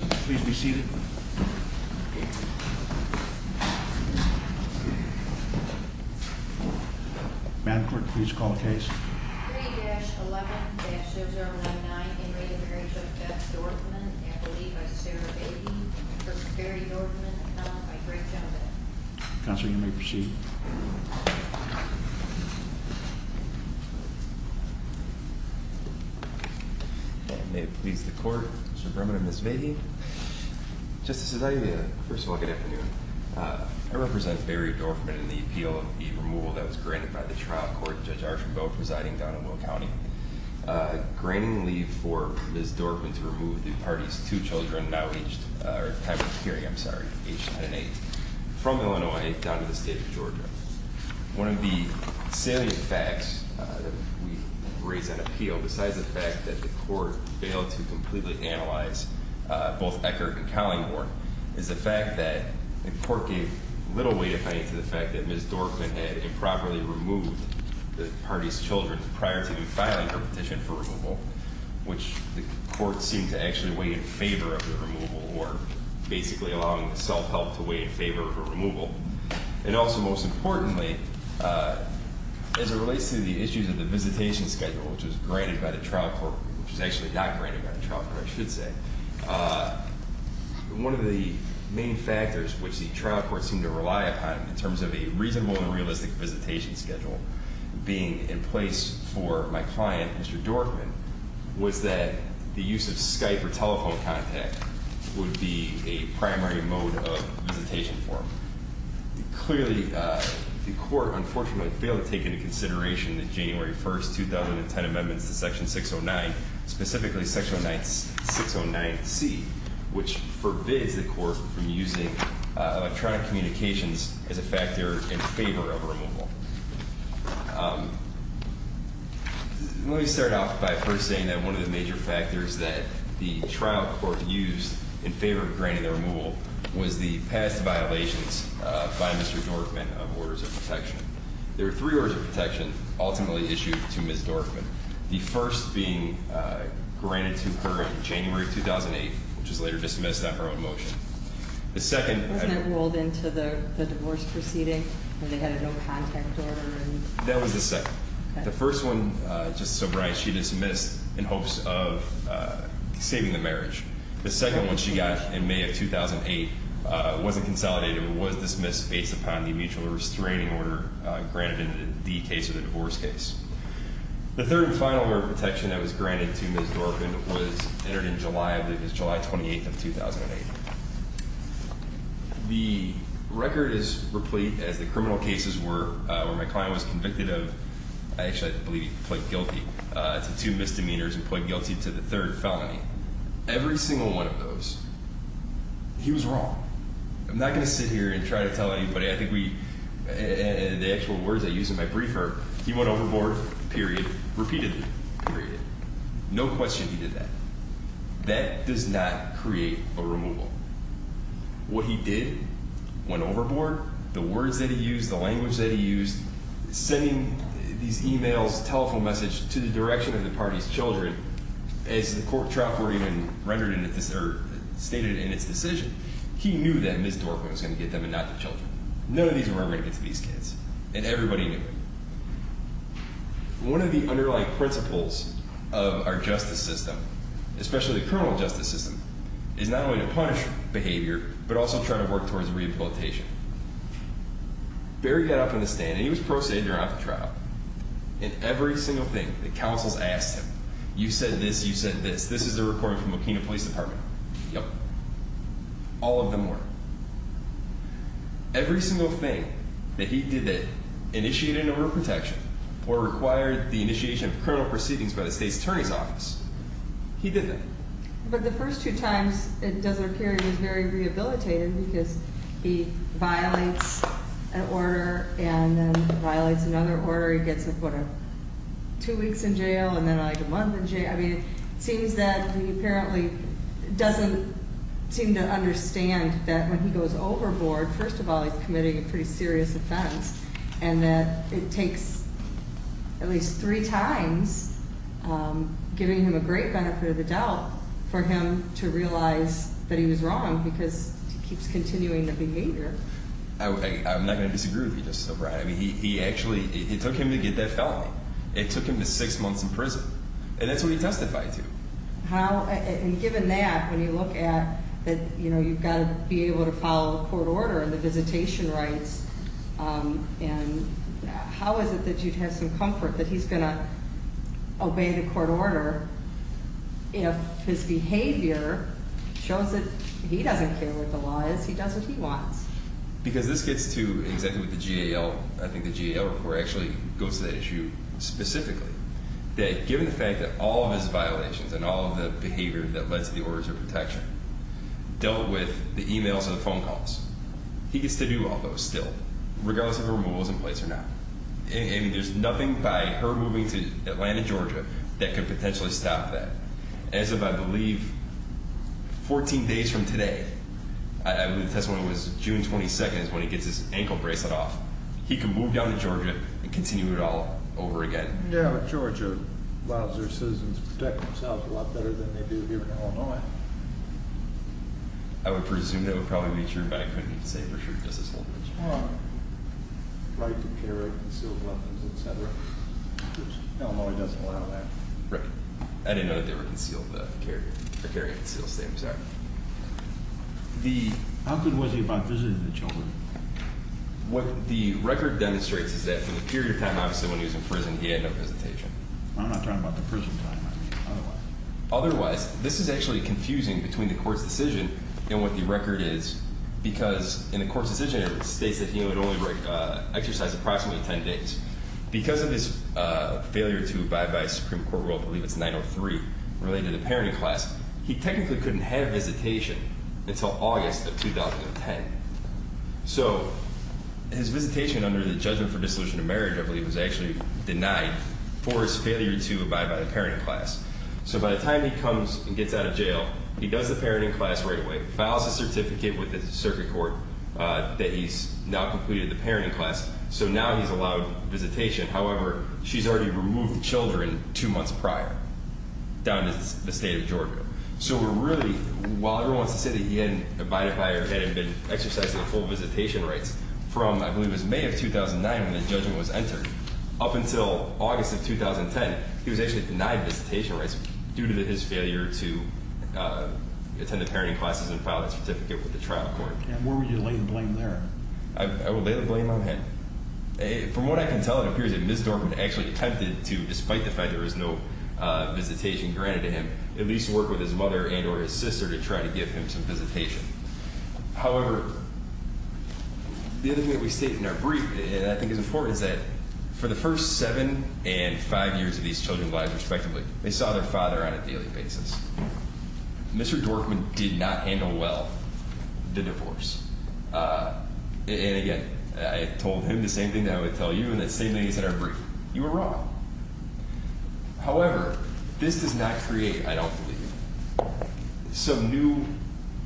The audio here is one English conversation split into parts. Please be seated. Man quick, please call the case. Counselor, you may proceed. May it please the court, Mr. Berman and Ms. Vahey. Justice Zia, first of all, good afternoon. I represent Barry Dorfman in the appeal of the removal that was granted by the trial court, Judge Archambeau presiding down in Will County. Granting leave for Ms. Dorfman to remove the party's two children now aged, or one of the salient facts that we've raised on appeal, besides the fact that the court failed to completely analyze both Eckert and Collingborn, is the fact that the court gave little weight, if any, to the fact that Ms. Dorfman had improperly removed the party's children prior to filing her petition for removal, which the court seemed to actually weigh in favor of the removal, or basically allowing the self-help to weigh in favor of a removal. And also, most importantly, as it relates to the issues of the visitation schedule, which was granted by the trial court, which was actually not granted by the trial court, I should say. One of the main factors which the trial court seemed to rely upon in terms of a reasonable and realistic visitation schedule being in place for my client, Mr. Dorfman, was that the use of Skype or telephone contact would be a primary mode of visitation form. Clearly, the court unfortunately failed to take into consideration the January 1st, 2010 amendments to section 609, specifically section 609C, which forbids the court from using electronic communications as a factor in favor of a removal. Let me start off by first saying that one of the major factors that the trial court used in favor of granting the removal was the past violations by Mr. Dorfman of orders of protection. There are three orders of protection ultimately issued to Ms. Dorfman. The first being granted to her in January 2008, which was later dismissed on her own motion. The second- Wasn't it rolled into the divorce proceeding when they had a no contact order? That was the second. The first one, Justice O'Brien, she dismissed in hopes of saving the marriage. The second one she got in May of 2008 wasn't consolidated or was dismissed based upon the mutual restraining order granted in the case of the divorce case. The third and final order of protection that was granted to Ms. Dorfman was entered in July of, it was July 28th of 2008. The record is replete as the criminal cases were, where my client was convicted of, actually I believe he pled guilty to two misdemeanors and pled guilty to the third felony. Every single one of those, he was wrong. I'm not going to sit here and try to tell anybody. I think we, the actual words I used in my briefer, he went overboard, period, repeatedly, period. No question he did that. That does not create a removal. What he did, went overboard, the words that he used, the language that he used, sending these emails, telephone messages to the direction of the party's children, as the court trough were even rendered in, stated in its decision. He knew that Ms. Dorfman was going to get them and not the children. None of these were ever going to get to these kids, and everybody knew it. One of the underlying principles of our justice system, especially the criminal justice system, is not only to punish behavior, but also try to work towards rehabilitation. Barry got up on the stand, and he was pro se during the trial, and every single thing that counsels asked him, you said this, you said this, this is the recording from Okina Police Department. Yep. All of them were. Every single thing that he did that initiated an order of protection or required the initiation of criminal proceedings by the state's attorney's office, he did that. But the first two times in Deseret Carrie, he was very rehabilitated because he violates an order and then violates another order. He gets, what, two weeks in jail and then like a month in jail. I mean, it seems that he apparently doesn't seem to understand that when he goes overboard, first of all, he's committing a pretty serious offense, and that it takes at least three times, giving him a great benefit of the doubt, for him to realize that he was wrong because he keeps continuing the behavior. I'm not going to disagree with you just so far. I mean, he actually, it took him to get that felony. It took him to six months in prison, and that's what he testified to. How, and given that, when you look at that, you know, he's going to be able to follow court order and the visitation rights, and how is it that you'd have some comfort that he's going to obey the court order if his behavior shows that he doesn't care what the law is, he does what he wants? Because this gets to exactly what the GAL, I think the GAL report actually goes to that issue specifically, that given the fact that all of his violations and all of the behavior that led to the order of protection dealt with the emails and the phone calls, he gets to do all those still, regardless of if a removal is in place or not. I mean, there's nothing by her moving to Atlanta, Georgia, that could potentially stop that. As of, I believe, 14 days from today, I believe the testimony was June 22nd, is when he gets his ankle bracelet off. He can move down to Georgia and continue it all over again. Yeah, but Georgia allows their citizens to protect themselves a lot better than they do here in Illinois. I would presume that would probably be true, but I couldn't even say for sure just as whole. Well, right to carry concealed weapons, et cetera. Illinois doesn't allow that. Right. I didn't know that they were carrying concealed, I'm sorry. How good was he about visiting the children? What the record demonstrates is that for the period of time, obviously, when he was in prison, he had no visitation. I'm not talking about the prison time, I mean otherwise. Otherwise, this is actually confusing between the court's decision and what the record is, because in the court's decision it states that he would only exercise approximately 10 days. Because of his failure to abide by Supreme Court rule, I believe it's 903, related to the parenting class, he technically couldn't have visitation until August of 2010. So his visitation under the judgment for dissolution of marriage, I believe, was actually denied for his failure to abide by the parenting class. So by the time he comes and gets out of jail, he does the parenting class right away, files a certificate with the circuit court that he's now completed the parenting class, so now he's allowed visitation. However, she's already removed the children two months prior, down to the state of Georgia. So we're really, while everyone wants to say that he hadn't abided by or hadn't been exercising the full visitation rights, from, I believe it was May of 2009 when the judgment was entered up until August of 2010, he was actually denied visitation rights due to his failure to attend the parenting classes and file that certificate with the trial court. Where would you lay the blame there? I would lay the blame on him. From what I can tell, it appears that Ms. Dorfman actually attempted to, despite the fact that there was no visitation granted to him, at least work with his mother and or his sister to try to give him some visitation. However, the other thing that we state in our brief, and I think it's important, is that for the first seven and five years of these children's lives, respectively, they saw their father on a daily basis. Mr. Dorfman did not handle well the divorce. And again, I told him the same thing that I would tell you in the same things in our brief. You were wrong. However, this does not create, I don't believe, some new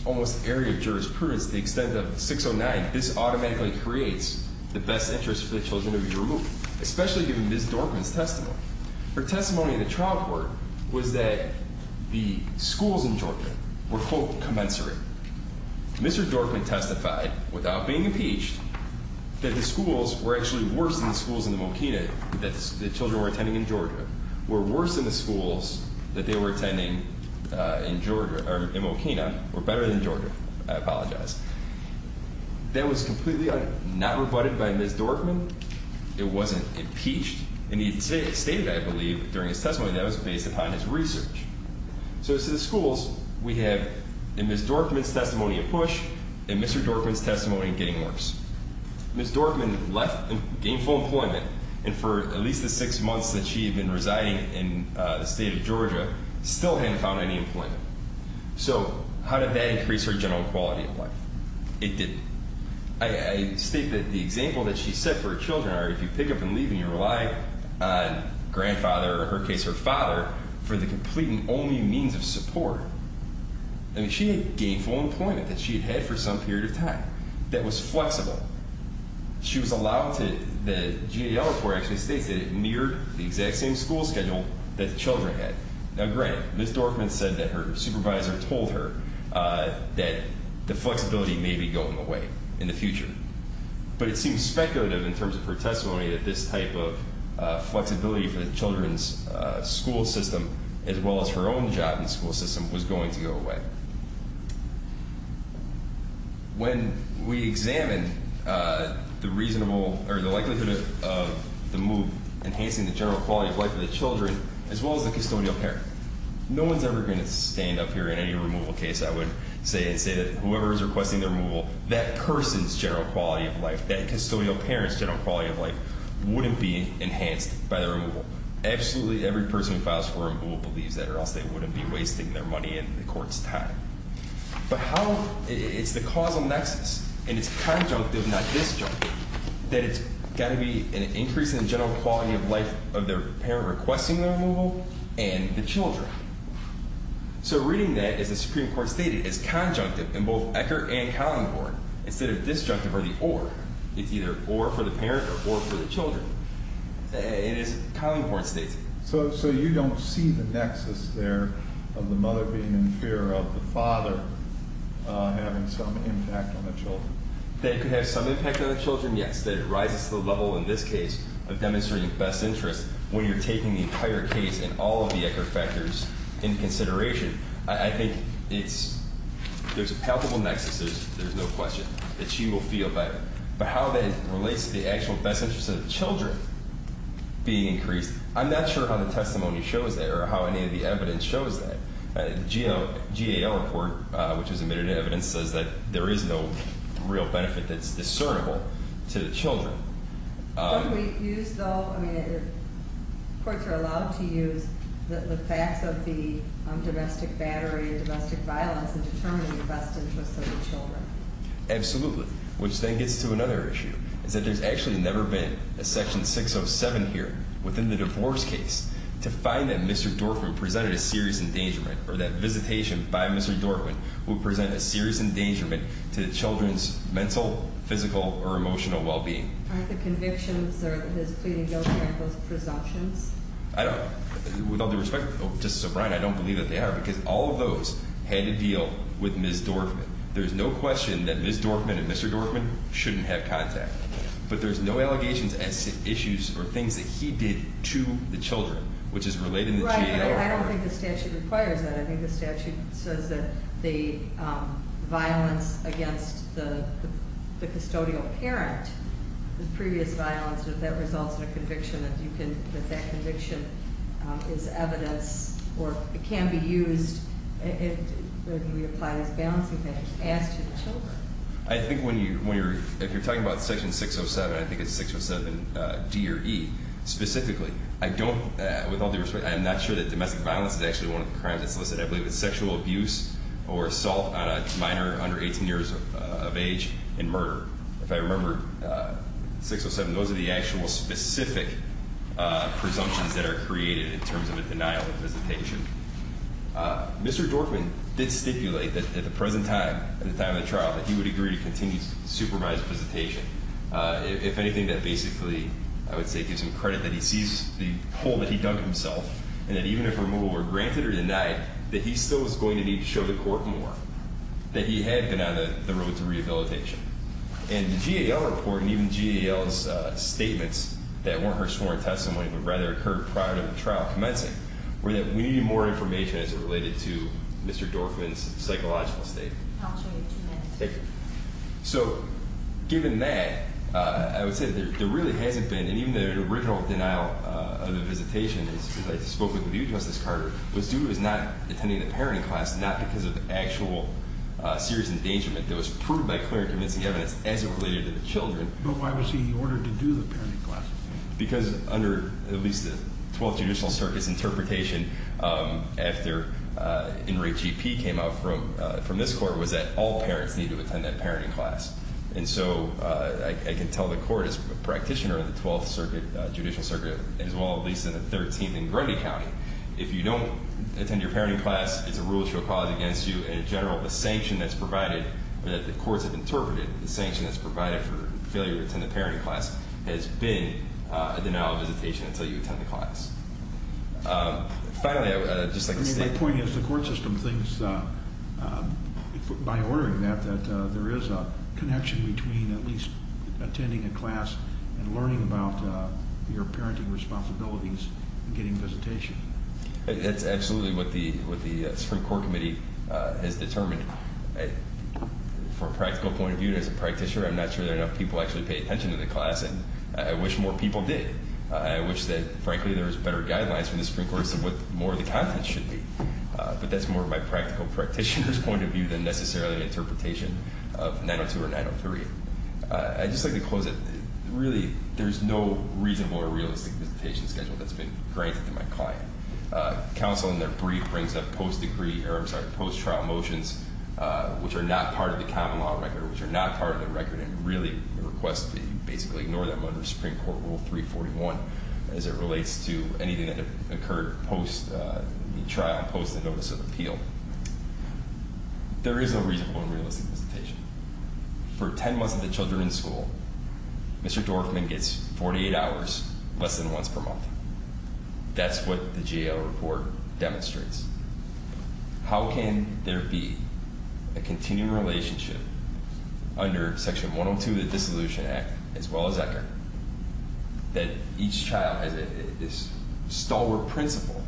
almost area of jurisprudence. The extent of 609, this automatically creates the best interest for the children to be removed, especially given Ms. Dorfman's testimony. Her testimony in the trial court was that the schools in Jordan were quote commensurate. Mr. Dorfman testified, without being impeached, that the schools were actually worse than the schools in the Mokina, that the children were attending in Georgia, were worse than the schools that they were attending in Mokina, or better than Georgia. I apologize. That was completely not rebutted by Ms. Dorfman. It wasn't impeached. And he stated, I believe, during his testimony that it was based upon his research. So to the schools, we have in Ms. Dorfman's testimony a push, in Mr. Dorfman's testimony getting worse. Ms. Dorfman left and gained full employment, and for at least the six months that she had been residing in the state of Georgia, still hadn't found any employment. So how did that increase her general quality of life? It didn't. I state that the example that she set for her children are if you pick up and leave and you rely on grandfather, or in her case her father, for the complete and only means of support. I mean, she had gained full employment that she had had for some period of time that was flexible. She was allowed to, the GAL report actually states that it neared the exact same school schedule that the children had. Now, granted, Ms. Dorfman said that her supervisor told her that the flexibility may be going away in the future. But it seems speculative in terms of her testimony that this type of flexibility for the children's school system, as well as her own job in the school system, was going to go away. When we examine the reasonable, or the likelihood of the move enhancing the general quality of life of the children, as well as the custodial care, no one's ever going to stand up here in any removal case, I would say, and say that whoever is requesting the removal, that person's general quality of life, that custodial parent's general quality of life wouldn't be enhanced by the removal. Absolutely every person who files for removal believes that or else they wouldn't be wasting their money and the court's time. But how, it's the causal nexus, and it's conjunctive, not disjunctive, that it's got to be an increase in the general quality of life of their parent requesting the removal and the children. So reading that, as the Supreme Court stated, it's conjunctive in both Ecker and Collinghorn. Instead of disjunctive or the or, it's either or for the parent or for the children. It is Collinghorn's statement. So you don't see the nexus there of the mother being in fear of the father having some impact on the children? That it could have some impact on the children, yes. That it rises to the level, in this case, of demonstrating best interest when you're taking the entire case and all of the Ecker factors into consideration. I think there's a palpable nexus, there's no question, that she will feel better. But how that relates to the actual best interest of the children being increased, I'm not sure how the testimony shows that or how any of the evidence shows that. GAO report, which was admitted in evidence, says that there is no real benefit that's discernible to the children. What do we use, though? I mean, courts are allowed to use the facts of the domestic battery or domestic violence in determining the best interest of the children. Absolutely, which then gets to another issue, is that there's actually never been a section 607 here within the divorce case to find that Mr. Dortman presented a serious endangerment or that visitation by Mr. Dortman will present a serious endangerment to the children's mental, physical, or emotional well-being. Aren't the convictions or his pleading guilty of those presumptions? I don't, with all due respect, Justice O'Brien, I don't believe that they are, because all of those had to deal with Ms. Dortman. There's no question that Ms. Dortman and Mr. Dortman shouldn't have contact. But there's no allegations as to issues or things that he did to the children, which is related to the GAO report. Right, but I don't think the statute requires that. I think the statute says that the violence against the custodial parent, the previous violence, if that results in a conviction, that you can, that that conviction is evidence or it can be used, if we apply this balancing act, as to the children. I think when you're, if you're talking about section 607, I think it's 607 D or E, specifically. I don't, with all due respect, I'm not sure that domestic violence is actually one of the crimes that's solicited. I believe it's sexual abuse or assault on a minor under 18 years of age and murder. If I remember 607, those are the actual specific presumptions that are created in terms of a denial of visitation. Mr. Dortman did stipulate that at the present time, at the time of the trial, that he would agree to continue supervised visitation. If anything, that basically, I would say, gives him credit that he sees the hole that he dug himself. And that even if removal were granted or denied, that he still was going to need to show the court more. That he had been on the road to rehabilitation. And the GAO report, and even GAO's statements that weren't her sworn testimony, but rather occurred prior to the trial commencing, were that we needed more information as it related to Mr. Dortman's psychological state. I'll show you two minutes. Thank you. So, given that, I would say that there really hasn't been, and even the original denial of the visitation, as I spoke with you, Justice Carter, was due to his not attending the parenting class, not because of actual serious endangerment that was proved by clear and convincing evidence as it related to the children. But why was he ordered to do the parenting class? Because under at least the 12th Judicial Circuit's interpretation, after Henry GP came out from this court, was that all parents need to attend that parenting class. And so, I can tell the court, as a practitioner of the 12th Judicial Circuit, as well at least in the 13th in Grundy County, if you don't attend your parenting class, it's a rule of show of cause against you. In general, the sanction that's provided, or that the courts have interpreted, the sanction that's provided for failure to attend the parenting class has been a denial of visitation until you attend the class. Finally, I would just like to say... My point is, the court system thinks, by ordering that, that there is a connection between at least attending a class and learning about your parenting responsibilities and getting visitation. That's absolutely what the Supreme Court Committee has determined. From a practical point of view, as a practitioner, I'm not sure that enough people actually pay attention to the class, and I wish more people did. I wish that, frankly, there was better guidelines from the Supreme Court as to what more of the content should be. But that's more my practical practitioner's point of view than necessarily the interpretation of 902 or 903. I'd just like to close it. Really, there's no reasonable or realistic visitation schedule that's been granted to my client. Counsel, in their brief, brings up post-trial motions, which are not part of the common law record, which are not part of the record, and really requests that you basically ignore them under Supreme Court Rule 341 as it relates to anything that occurred post-trial, post the notice of appeal. There is no reasonable and realistic visitation. For ten months of the children in school, Mr. Dorfman gets 48 hours, less than once per month. That's what the J.L. report demonstrates. How can there be a continuing relationship under Section 102 of the Dissolution Act, as well as Ecker, that each child has this stalwart principle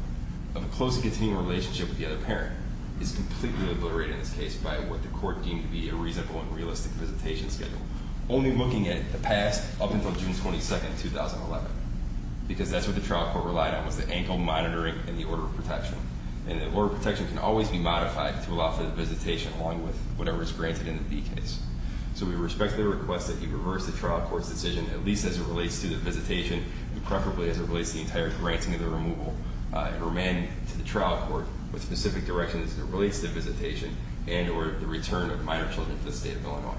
of a close and continuing relationship with the other parent, is completely obliterated in this case by what the court deemed to be a reasonable and realistic visitation schedule, only looking at the past up until June 22, 2011, because that's what the trial court relied on, was the ankle monitoring and the order of protection. And the order of protection can always be modified to allow for the visitation, along with whatever is granted in the D case. So we respectfully request that you reverse the trial court's decision, at least as it relates to the visitation, and preferably as it relates to the entire granting of the removal of her men to the trial court with specific directions as it relates to the visitation and or the return of minor children to the state of Illinois.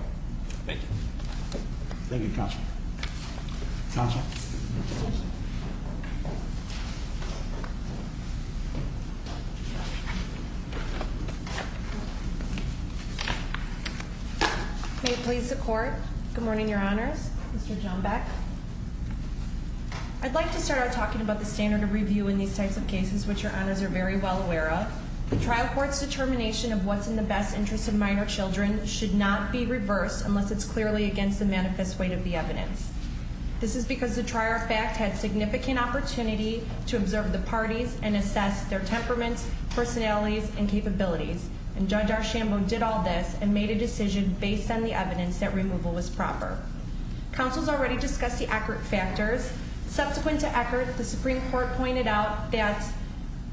Thank you. Thank you, Counsel. Sasha. May it please the Court. Good morning, Your Honors. Mr. Johnbeck. I'd like to start out talking about the standard of review in these types of cases, which Your Honors are very well aware of. The trial court's determination of what's in the best interest of minor children should not be reversed unless it's clearly against the manifest weight of the evidence. This is because the trier of fact had significant opportunity to observe the parties and assess their temperaments, personalities, and capabilities. And Judge Archambault did all this and made a decision based on the evidence that removal was proper. Counsel's already discussed the accurate factors. Subsequent to Eckert, the Supreme Court pointed out that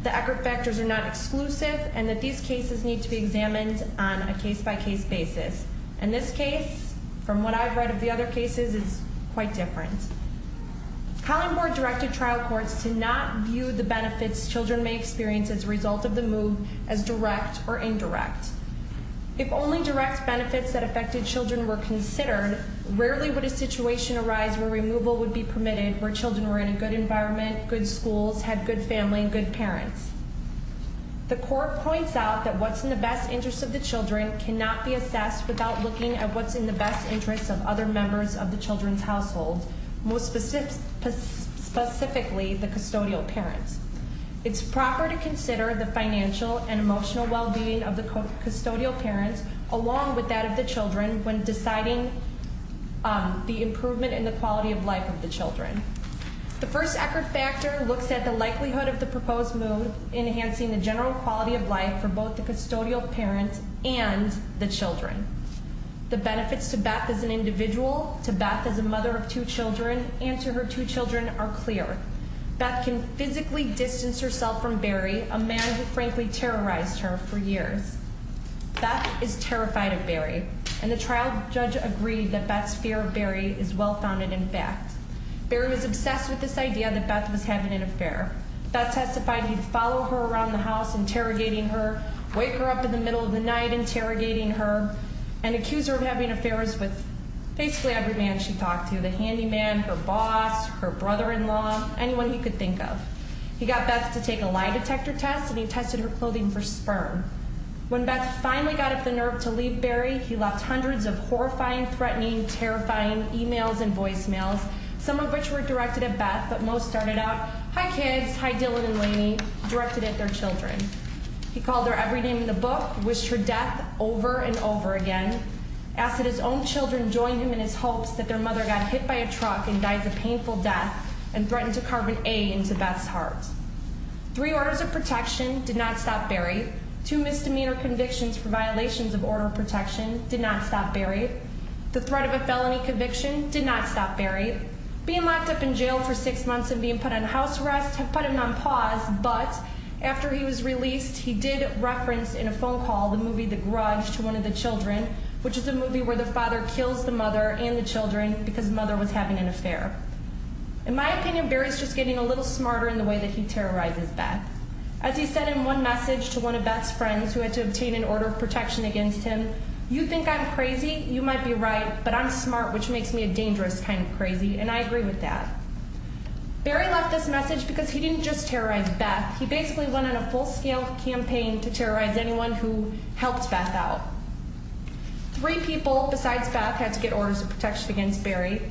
the accurate factors are not exclusive and that these cases need to be examined on a case-by-case basis. And this case, from what I've read of the other cases, is quite different. Collingborg directed trial courts to not view the benefits children may experience as a result of the move as direct or indirect. If only direct benefits that affected children were considered, rarely would a situation arise where removal would be permitted where children were in a good environment, good schools, had good family, and good parents. The court points out that what's in the best interest of the children cannot be assessed without looking at what's in the best interest of other members of the children's household, most specifically the custodial parents. It's proper to consider the financial and emotional well-being of the custodial parents, along with that of the children, when deciding the improvement in the quality of life of the children. The first accurate factor looks at the likelihood of the proposed move enhancing the general quality of life for both the custodial parents and the children. The benefits to Beth as an individual, to Beth as a mother of two children, and to her two children are clear. Beth can physically distance herself from Barry, a man who frankly terrorized her for years. Beth is terrified of Barry, and the trial judge agreed that Beth's fear of Barry is well-founded in fact. Barry was obsessed with this idea that Beth was having an affair. Beth testified he'd follow her around the house interrogating her, wake her up in the middle of the night interrogating her, and accuse her of having affairs with basically every man she talked to, the handyman, her boss, her brother-in-law, anyone he could think of. He got Beth to take a lie detector test, and he tested her clothing for sperm. When Beth finally got up the nerve to leave Barry, he left hundreds of horrifying, threatening, terrifying emails and voicemails, some of which were directed at Beth, but most started out, hi kids, hi Dylan and Laney, directed at their children. He called her every name in the book, wished her death over and over again, asked that his own children join him in his hopes that their mother got hit by a truck and died a painful death, and threatened to carve an A into Beth's heart. Three orders of protection did not stop Barry. Two misdemeanor convictions for violations of order of protection did not stop Barry. The threat of a felony conviction did not stop Barry. Being locked up in jail for six months and being put on house arrest put him on pause, but after he was released, he did reference in a phone call the movie The Grudge to one of the children, which is a movie where the father kills the mother and the children because the mother was having an affair. In my opinion, Barry's just getting a little smarter in the way that he terrorizes Beth. As he said in one message to one of Beth's friends who had to obtain an order of protection against him, you think I'm crazy, you might be right, but I'm smart, which makes me a dangerous kind of crazy, and I agree with that. Barry left this message because he didn't just terrorize Beth, he basically went on a full-scale campaign to terrorize anyone who helped Beth out. Three people besides Beth had to get orders of protection against Barry.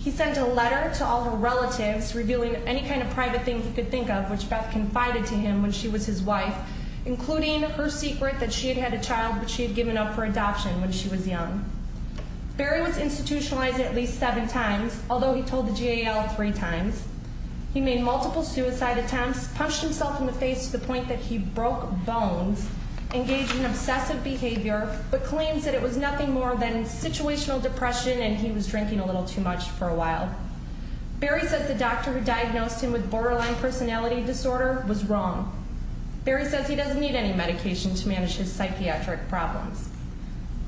He sent a letter to all her relatives revealing any kind of private thing he could think of, which Beth confided to him when she was his wife, including her secret that she had had a child which she had given up for adoption when she was young. Barry was institutionalized at least seven times, although he told the GAL three times. He made multiple suicide attempts, punched himself in the face to the point that he broke bones, engaged in obsessive behavior, but claims that it was nothing more than situational depression and he was drinking a little too much for a while. Barry says the doctor who diagnosed him with borderline personality disorder was wrong. Barry says he doesn't need any medication to manage his psychiatric problems.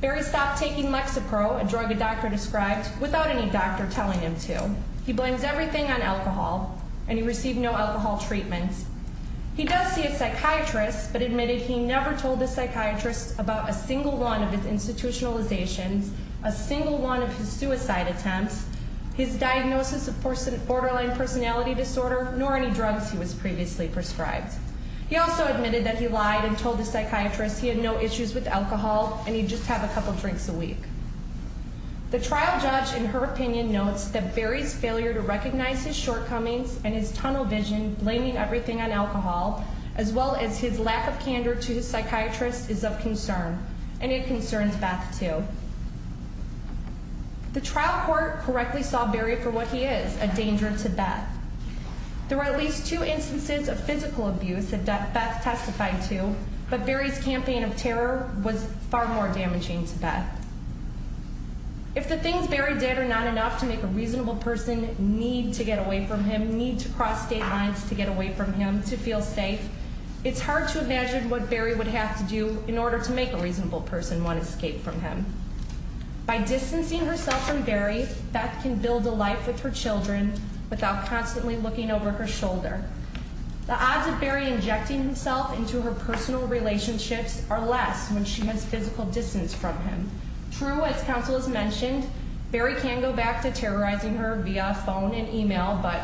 Barry stopped taking Lexapro, a drug a doctor described, without any doctor telling him to. He blames everything on alcohol, and he received no alcohol treatment. He does see a psychiatrist, but admitted he never told the psychiatrist about a single one of his institutionalizations, a single one of his suicide attempts, his diagnosis of borderline personality disorder, nor any drugs he was previously prescribed. He also admitted that he lied and told the psychiatrist he had no issues with alcohol and he'd just have a couple drinks a week. The trial judge, in her opinion, notes that Barry's failure to recognize his shortcomings and his tunnel vision blaming everything on alcohol, as well as his lack of candor to his psychiatrist, is of concern. And it concerns Beth, too. The trial court correctly saw Barry for what he is, a danger to Beth. There were at least two instances of physical abuse that Beth testified to, but Barry's campaign of terror was far more damaging to Beth. If the things Barry did are not enough to make a reasonable person need to get away from him, need to cross state lines to get away from him, to feel safe, it's hard to imagine what Barry would have to do in order to make a reasonable person want to escape from him. By distancing herself from Barry, Beth can build a life with her children without constantly looking over her shoulder. The odds of Barry injecting himself into her personal relationships are less when she has physical distance from him. True, as counsel has mentioned, Barry can go back to terrorizing her via phone and email, but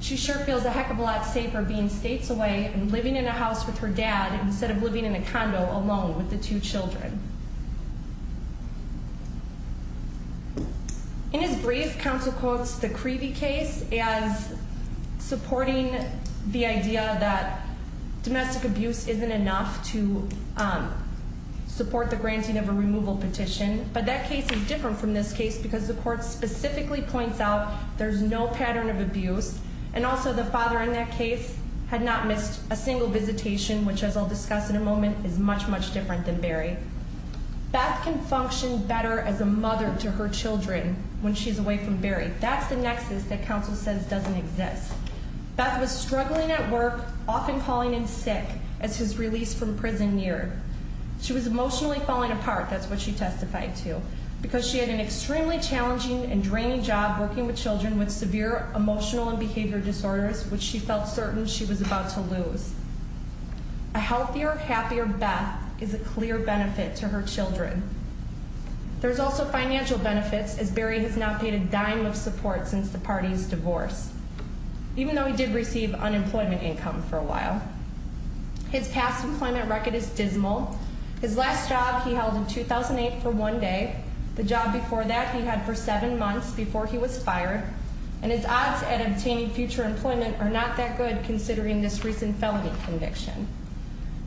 she sure feels a heck of a lot safer being states away and living in a house with her dad instead of living in a condo alone with the two children. In his brief, counsel quotes the Creevey case as supporting the idea that domestic abuse isn't enough to support the granting of a removal petition. But that case is different from this case because the court specifically points out there's no pattern of abuse, and also the father in that case had not missed a single visitation, which, as I'll discuss in a moment, is much, much different than Barry. Beth can function better as a mother to her children when she's away from Barry. That's the nexus that counsel says doesn't exist. Beth was struggling at work, often calling in sick as his release from prison neared. She was emotionally falling apart, that's what she testified to, because she had an extremely challenging and draining job working with children with severe emotional and behavior disorders, which she felt certain she was about to lose. A healthier, happier Beth is a clear benefit to her children. There's also financial benefits, as Barry has not paid a dime of support since the party's divorce, even though he did receive unemployment income for a while. His past employment record is dismal. His last job he held in 2008 for one day. The job before that he had for seven months before he was fired. And his odds at obtaining future employment are not that good, considering this recent felony conviction.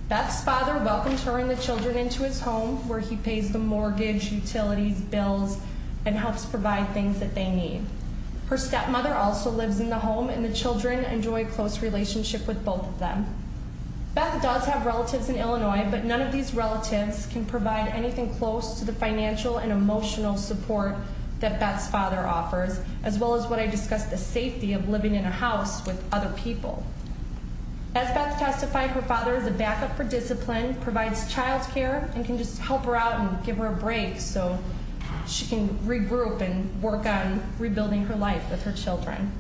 Beth's father welcomed her and the children into his home, where he pays the mortgage, utilities, bills, and helps provide things that they need. Her stepmother also lives in the home, and the children enjoy a close relationship with both of them. Beth does have relatives in Illinois, but none of these relatives can provide anything close to the financial and emotional support that Beth's father offers, as well as what I discussed, the safety of living in a house with other people. As Beth testified, her father is a backup for discipline, provides childcare, and can just help her out and give her a break so she can regroup and work on rebuilding her life with her children.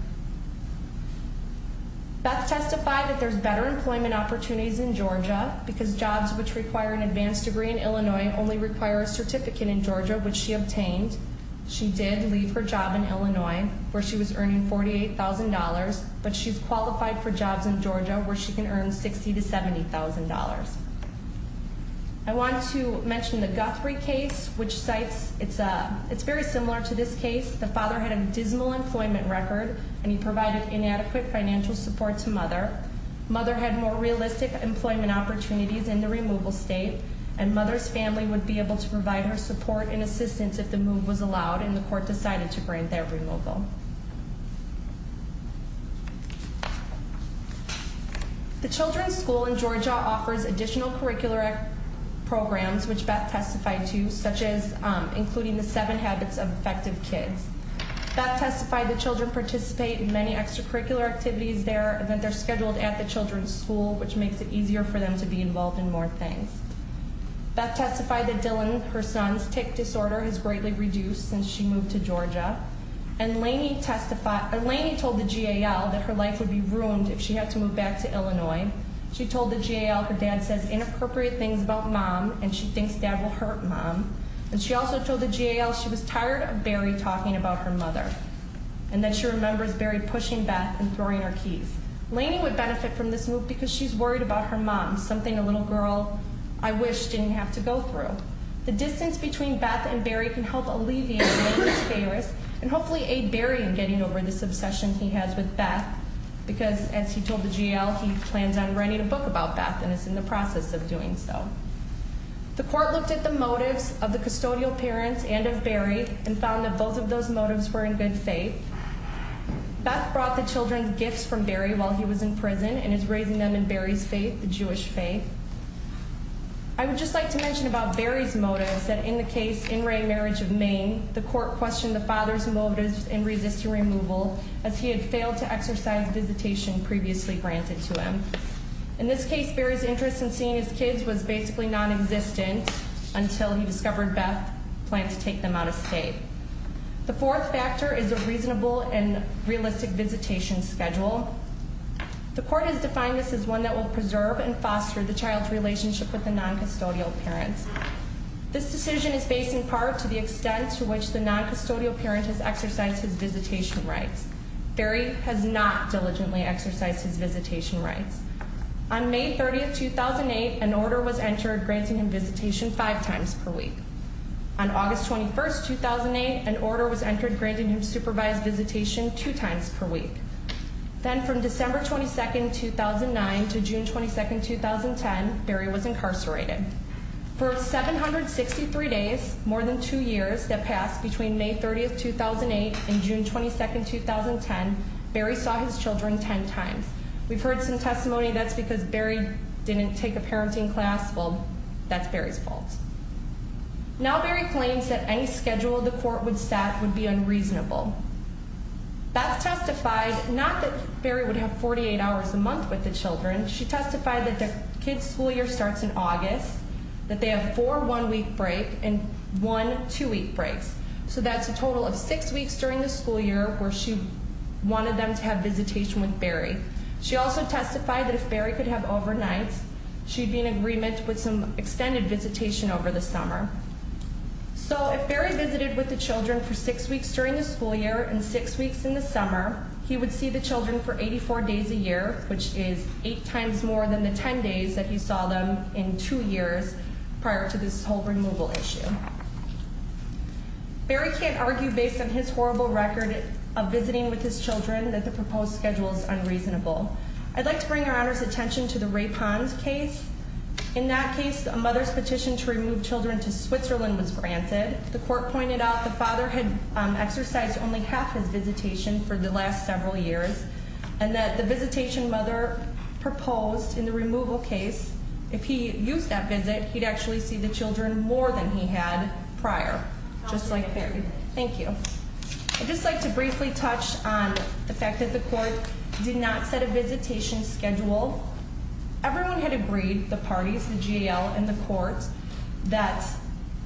Beth testified that there's better employment opportunities in Georgia, because jobs which require an advanced degree in Illinois only require a certificate in Georgia, which she obtained. She did leave her job in Illinois, where she was earning $48,000, but she's qualified for jobs in Georgia, where she can earn $60,000 to $70,000. I want to mention the Guthrie case, which cites, it's very similar to this case. The father had a dismal employment record, and he provided inadequate financial support to mother. Mother had more realistic employment opportunities in the removal state, and mother's family would be able to provide her support and assistance if the move was allowed, and the court decided to grant their removal. The children's school in Georgia offers additional curricular programs, which Beth testified to, such as including the seven habits of effective kids. Beth testified that children participate in many extracurricular activities there, and that they're scheduled at the children's school, which makes it easier for them to be involved in more things. Beth testified that Dylan, her son's tic disorder, has greatly reduced since she moved to Georgia, and Lainey told the GAL that her life would be ruined if she had to move back to Illinois. She told the GAL her dad says inappropriate things about mom, and she thinks dad will hurt mom. And she also told the GAL she was tired of Barry talking about her mother, and that she remembers Barry pushing Beth and throwing her keys. Lainey would benefit from this move because she's worried about her mom, something a little girl, I wish, didn't have to go through. The distance between Beth and Barry can help alleviate Lainey's pay risk, and hopefully aid Barry in getting over this obsession he has with Beth, because, as he told the GAL, he plans on writing a book about Beth, and is in the process of doing so. The court looked at the motives of the custodial parents and of Barry, and found that both of those motives were in good faith. Beth brought the children gifts from Barry while he was in prison, and is raising them in Barry's faith, the Jewish faith. I would just like to mention about Barry's motives, that in the case In Re Marriage of Maine, the court questioned the father's motives in resisting removal, as he had failed to exercise visitation previously granted to him. In this case, Barry's interest in seeing his kids was basically non-existent, until he discovered Beth planned to take them out of state. The fourth factor is a reasonable and realistic visitation schedule. The court has defined this as one that will preserve and foster the child's relationship with the non-custodial parents. This decision is based in part to the extent to which the non-custodial parent has exercised his visitation rights. Barry has not diligently exercised his visitation rights. On May 30, 2008, an order was entered granting him visitation five times per week. On August 21, 2008, an order was entered granting him supervised visitation two times per week. Then from December 22, 2009 to June 22, 2010, Barry was incarcerated. For 763 days, more than two years, that passed between May 30, 2008 and June 22, 2010, Barry saw his children ten times. We've heard some testimony that's because Barry didn't take a parenting class. Well, that's Barry's fault. Now Barry claims that any schedule the court would set would be unreasonable. Beth testified not that Barry would have 48 hours a month with the children. She testified that the kids' school year starts in August, that they have four one-week breaks and one two-week breaks. So that's a total of six weeks during the school year where she wanted them to have visitation with Barry. She also testified that if Barry could have overnights, she'd be in agreement with some extended visitation over the summer. So if Barry visited with the children for six weeks during the school year and six weeks in the summer, he would see the children for 84 days a year, which is eight times more than the ten days that he saw them in two years prior to this whole removal issue. Barry can't argue based on his horrible record of visiting with his children that the proposed schedule is unreasonable. I'd like to bring Your Honor's attention to the Ray Ponds case. In that case, a mother's petition to remove children to Switzerland was granted. The court pointed out the father had exercised only half his visitation for the last several years. And that the visitation mother proposed in the removal case, if he used that visit, he'd actually see the children more than he had prior, just like Barry. Thank you. I'd just like to briefly touch on the fact that the court did not set a visitation schedule. Everyone had agreed, the parties, the GAL and the court, that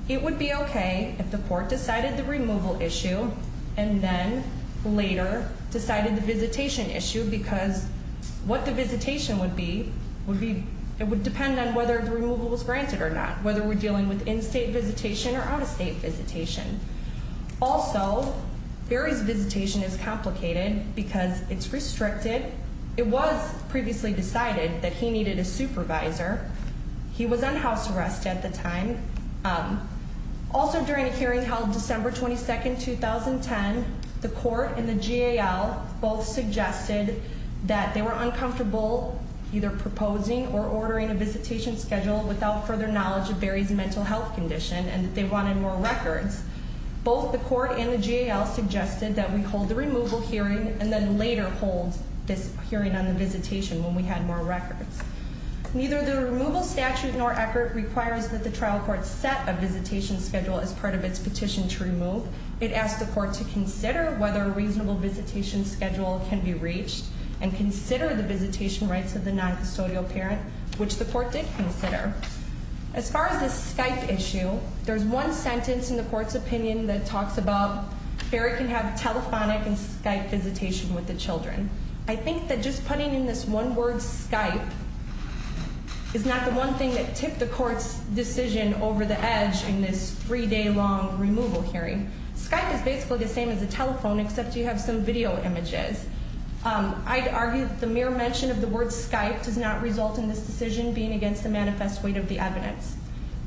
it would be okay if the court decided the removal issue and then later decided the visitation issue. Because what the visitation would be, it would depend on whether the removal was granted or not. Whether we're dealing with in-state visitation or out-of-state visitation. Also, Barry's visitation is complicated because it's restricted. It was previously decided that he needed a supervisor. He was on house arrest at the time. Also, during a hearing held December 22, 2010, the court and the GAL both suggested that they were uncomfortable either proposing or ordering a visitation schedule without further knowledge of Barry's mental health condition and that they wanted more records. Both the court and the GAL suggested that we hold the removal hearing and then later hold this hearing on the visitation when we had more records. Neither the removal statute nor ECCRT requires that the trial court set a visitation schedule as part of its petition to remove. It asked the court to consider whether a reasonable visitation schedule can be reached and consider the visitation rights of the non-custodial parent, which the court did consider. As far as this Skype issue, there's one sentence in the court's opinion that talks about Barry can have telephonic and Skype visitation with the children. I think that just putting in this one word, Skype, is not the one thing that tipped the court's decision over the edge in this three-day-long removal hearing. Skype is basically the same as a telephone, except you have some video images. I'd argue that the mere mention of the word Skype does not result in this decision being against the manifest weight of the evidence.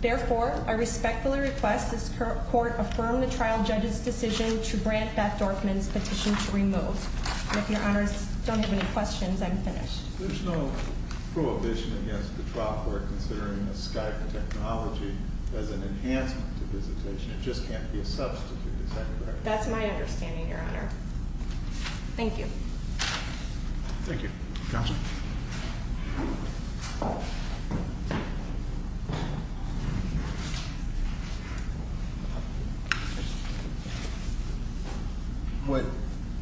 Therefore, I respectfully request this court affirm the trial judge's decision to grant Beth Dorfman's petition to remove. If your honors don't have any questions, I'm finished. There's no prohibition against the trial court considering Skype technology as an enhancement to visitation. It just can't be a substitute. Is that correct? That's my understanding, your honor. Thank you. Thank you, counsel. What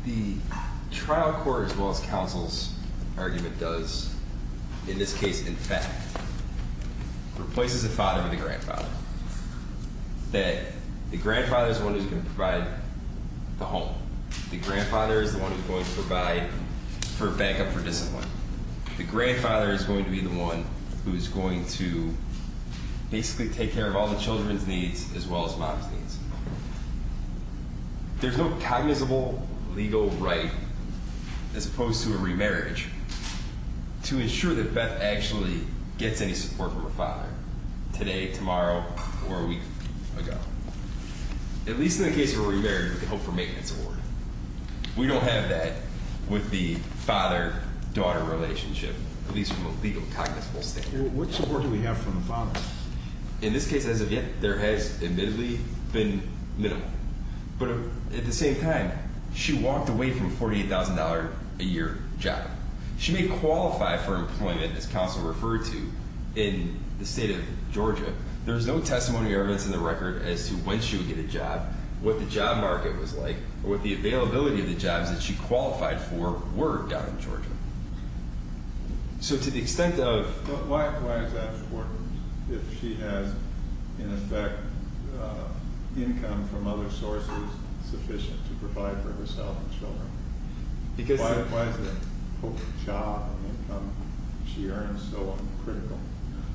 the trial court, as well as counsel's argument, does, in this case, in fact, replaces the father with the grandfather. That the grandfather is the one who's going to provide the home. The grandfather is the one who's going to provide for backup for discipline. The grandfather is going to be the one who is going to basically take care of all the children's needs, as well as mom's needs. There's no cognizable legal right, as opposed to a remarriage, to ensure that Beth actually gets any support from her father. Today, tomorrow, or a week ago. At least in the case where we remarried with the Hope for Maintenance Award. We don't have that with the father-daughter relationship, at least from a legal, cognizable standpoint. What support do we have from the father? In this case, as of yet, there has admittedly been minimal. But at the same time, she walked away from a $48,000 a year job. She may qualify for employment, as counsel referred to, in the state of Georgia. There's no testimony or evidence in the record as to when she would get a job, what the job market was like, or what the availability of the jobs that she qualified for were down in Georgia. So to the extent of... But why is that important, if she has, in effect, income from other sources sufficient to provide for herself and children? Why is the Hope job and income she earns so critical?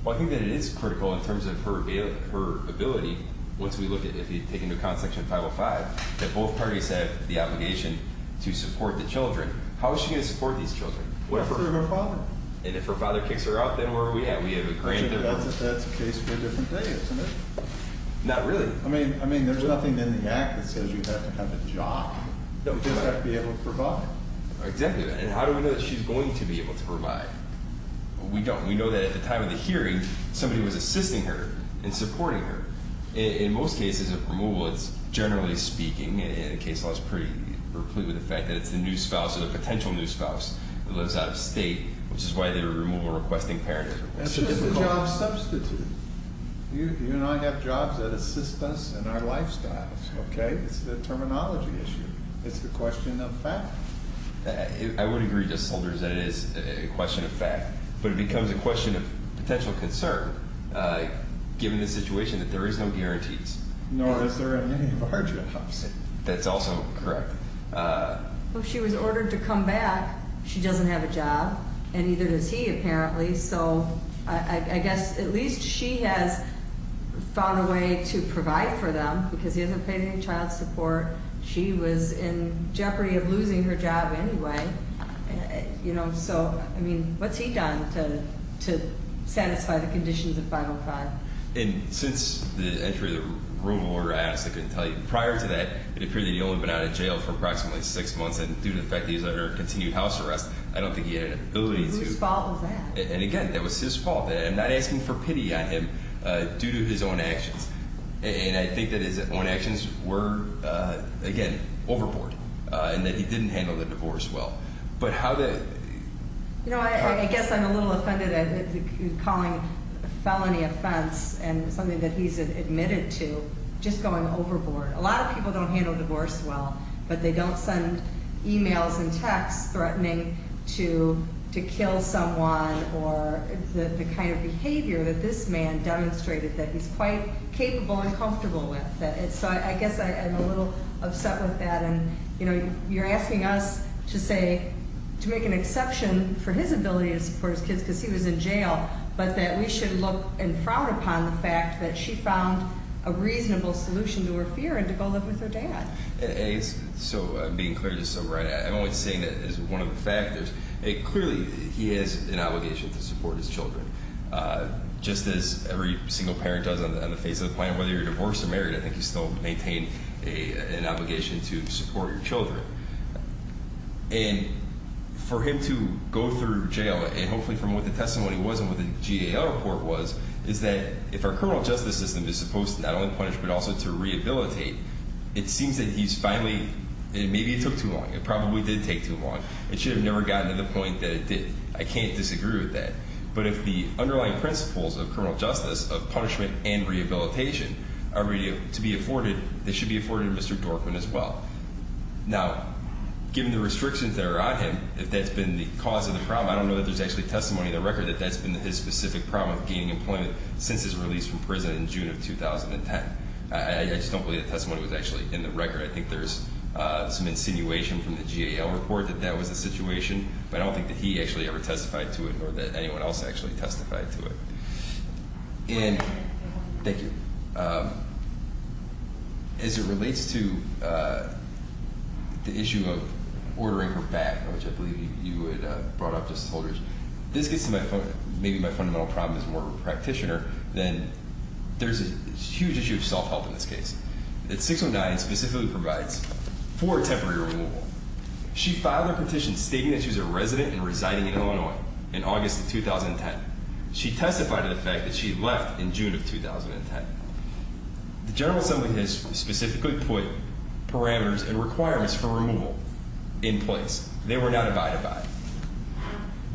Well, I think that it is critical in terms of her ability. Once we look at, if you take into account Section 505, that both parties have the obligation to support the children. How is she going to support these children? Well, through her father. And if her father kicks her out, then where are we at? That's a case for a different day, isn't it? Not really. I mean, there's nothing in the Act that says you have to have a job. You just have to be able to provide. Exactly. And how do we know that she's going to be able to provide? We don't. We know that at the time of the hearing, somebody was assisting her and supporting her. In most cases of removal, it's, generally speaking, in a case like this, pretty replete with the fact that it's the new spouse, or the potential new spouse, that lives out of state, which is why the removal requesting parent is required. It's just a job substitute. You and I have jobs that assist us in our lifestyles, okay? I think it's a terminology issue. It's a question of fact. I would agree, Judge Solders, that it is a question of fact. But it becomes a question of potential concern, given the situation, that there is no guarantees. Nor is there any of our jobs. That's also correct. Well, if she was ordered to come back, she doesn't have a job, and neither does he, apparently. So I guess at least she has found a way to provide for them, because he hasn't paid any child support. She was in jeopardy of losing her job anyway. So, I mean, what's he done to satisfy the conditions of 505? And since the entry of the removal order, I honestly couldn't tell you. Prior to that, it appeared that you'd only been out of jail for approximately six months. And due to the fact that he was under continued house arrest, I don't think he had an ability to- I mean, again, that was his fault. I'm not asking for pity on him due to his own actions. And I think that his own actions were, again, overboard, and that he didn't handle the divorce well. But how did- You know, I guess I'm a little offended at calling a felony offense and something that he's admitted to just going overboard. A lot of people don't handle divorce well, but they don't send emails and texts threatening to kill someone, or the kind of behavior that this man demonstrated that he's quite capable and comfortable with. So I guess I'm a little upset with that. And, you know, you're asking us to say-to make an exception for his ability to support his kids because he was in jail, but that we should look and frown upon the fact that she found a reasonable solution to her fear and to go live with her dad. So being clear, you're so right. I'm only saying that as one of the factors. Clearly, he has an obligation to support his children, just as every single parent does on the face of the planet. Whether you're divorced or married, I think you still maintain an obligation to support your children. And for him to go through jail, and hopefully from what the testimony was and what the GAO report was, is that if our criminal justice system is supposed to not only punish but also to rehabilitate, it seems that he's finally-maybe it took too long. It probably did take too long. It should have never gotten to the point that it did. I can't disagree with that. But if the underlying principles of criminal justice, of punishment and rehabilitation, are ready to be afforded, they should be afforded to Mr. Dorfman as well. Now, given the restrictions that are on him, if that's been the cause of the problem, I don't know that there's actually testimony in the record that that's been his specific problem with gaining employment since his release from prison in June of 2010. I just don't believe the testimony was actually in the record. I think there's some insinuation from the GAO report that that was the situation, but I don't think that he actually ever testified to it nor that anyone else actually testified to it. Thank you. As it relates to the issue of ordering her back, which I believe you had brought up, Justice Holders, this gets to maybe my fundamental problem as more of a practitioner than there's a huge issue of self-help in this case. That 619 specifically provides for a temporary removal. She filed a petition stating that she was a resident and residing in Illinois in August of 2010. She testified to the fact that she left in June of 2010. The General Assembly has specifically put parameters and requirements for removal in place. They were not abided by.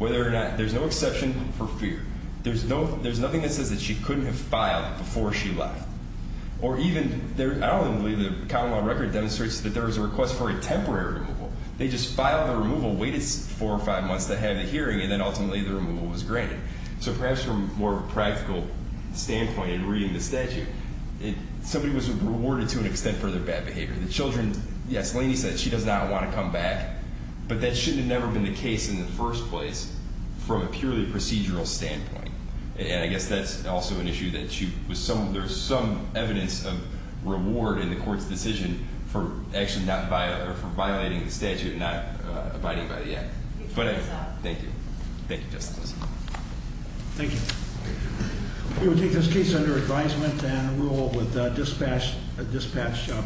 There's no exception for fear. There's nothing that says that she couldn't have filed before she left. I don't even believe the common law record demonstrates that there was a request for a temporary removal. They just filed the removal, waited four or five months to have the hearing, and then ultimately the removal was granted. So perhaps from more of a practical standpoint in reading the statute, somebody was rewarded to an extent for their bad behavior. The children, yes, Laney said she does not want to come back, but that shouldn't have never been the case in the first place from a purely procedural standpoint. And I guess that's also an issue that there's some evidence of reward in the court's decision for actually not violating the statute and not abiding by the act. Thank you. Thank you, Justice Holders. Thank you. We will take this case under advisement and rule with dispatch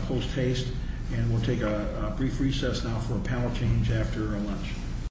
post haste. And we'll take a brief recess now for a panel change after lunch.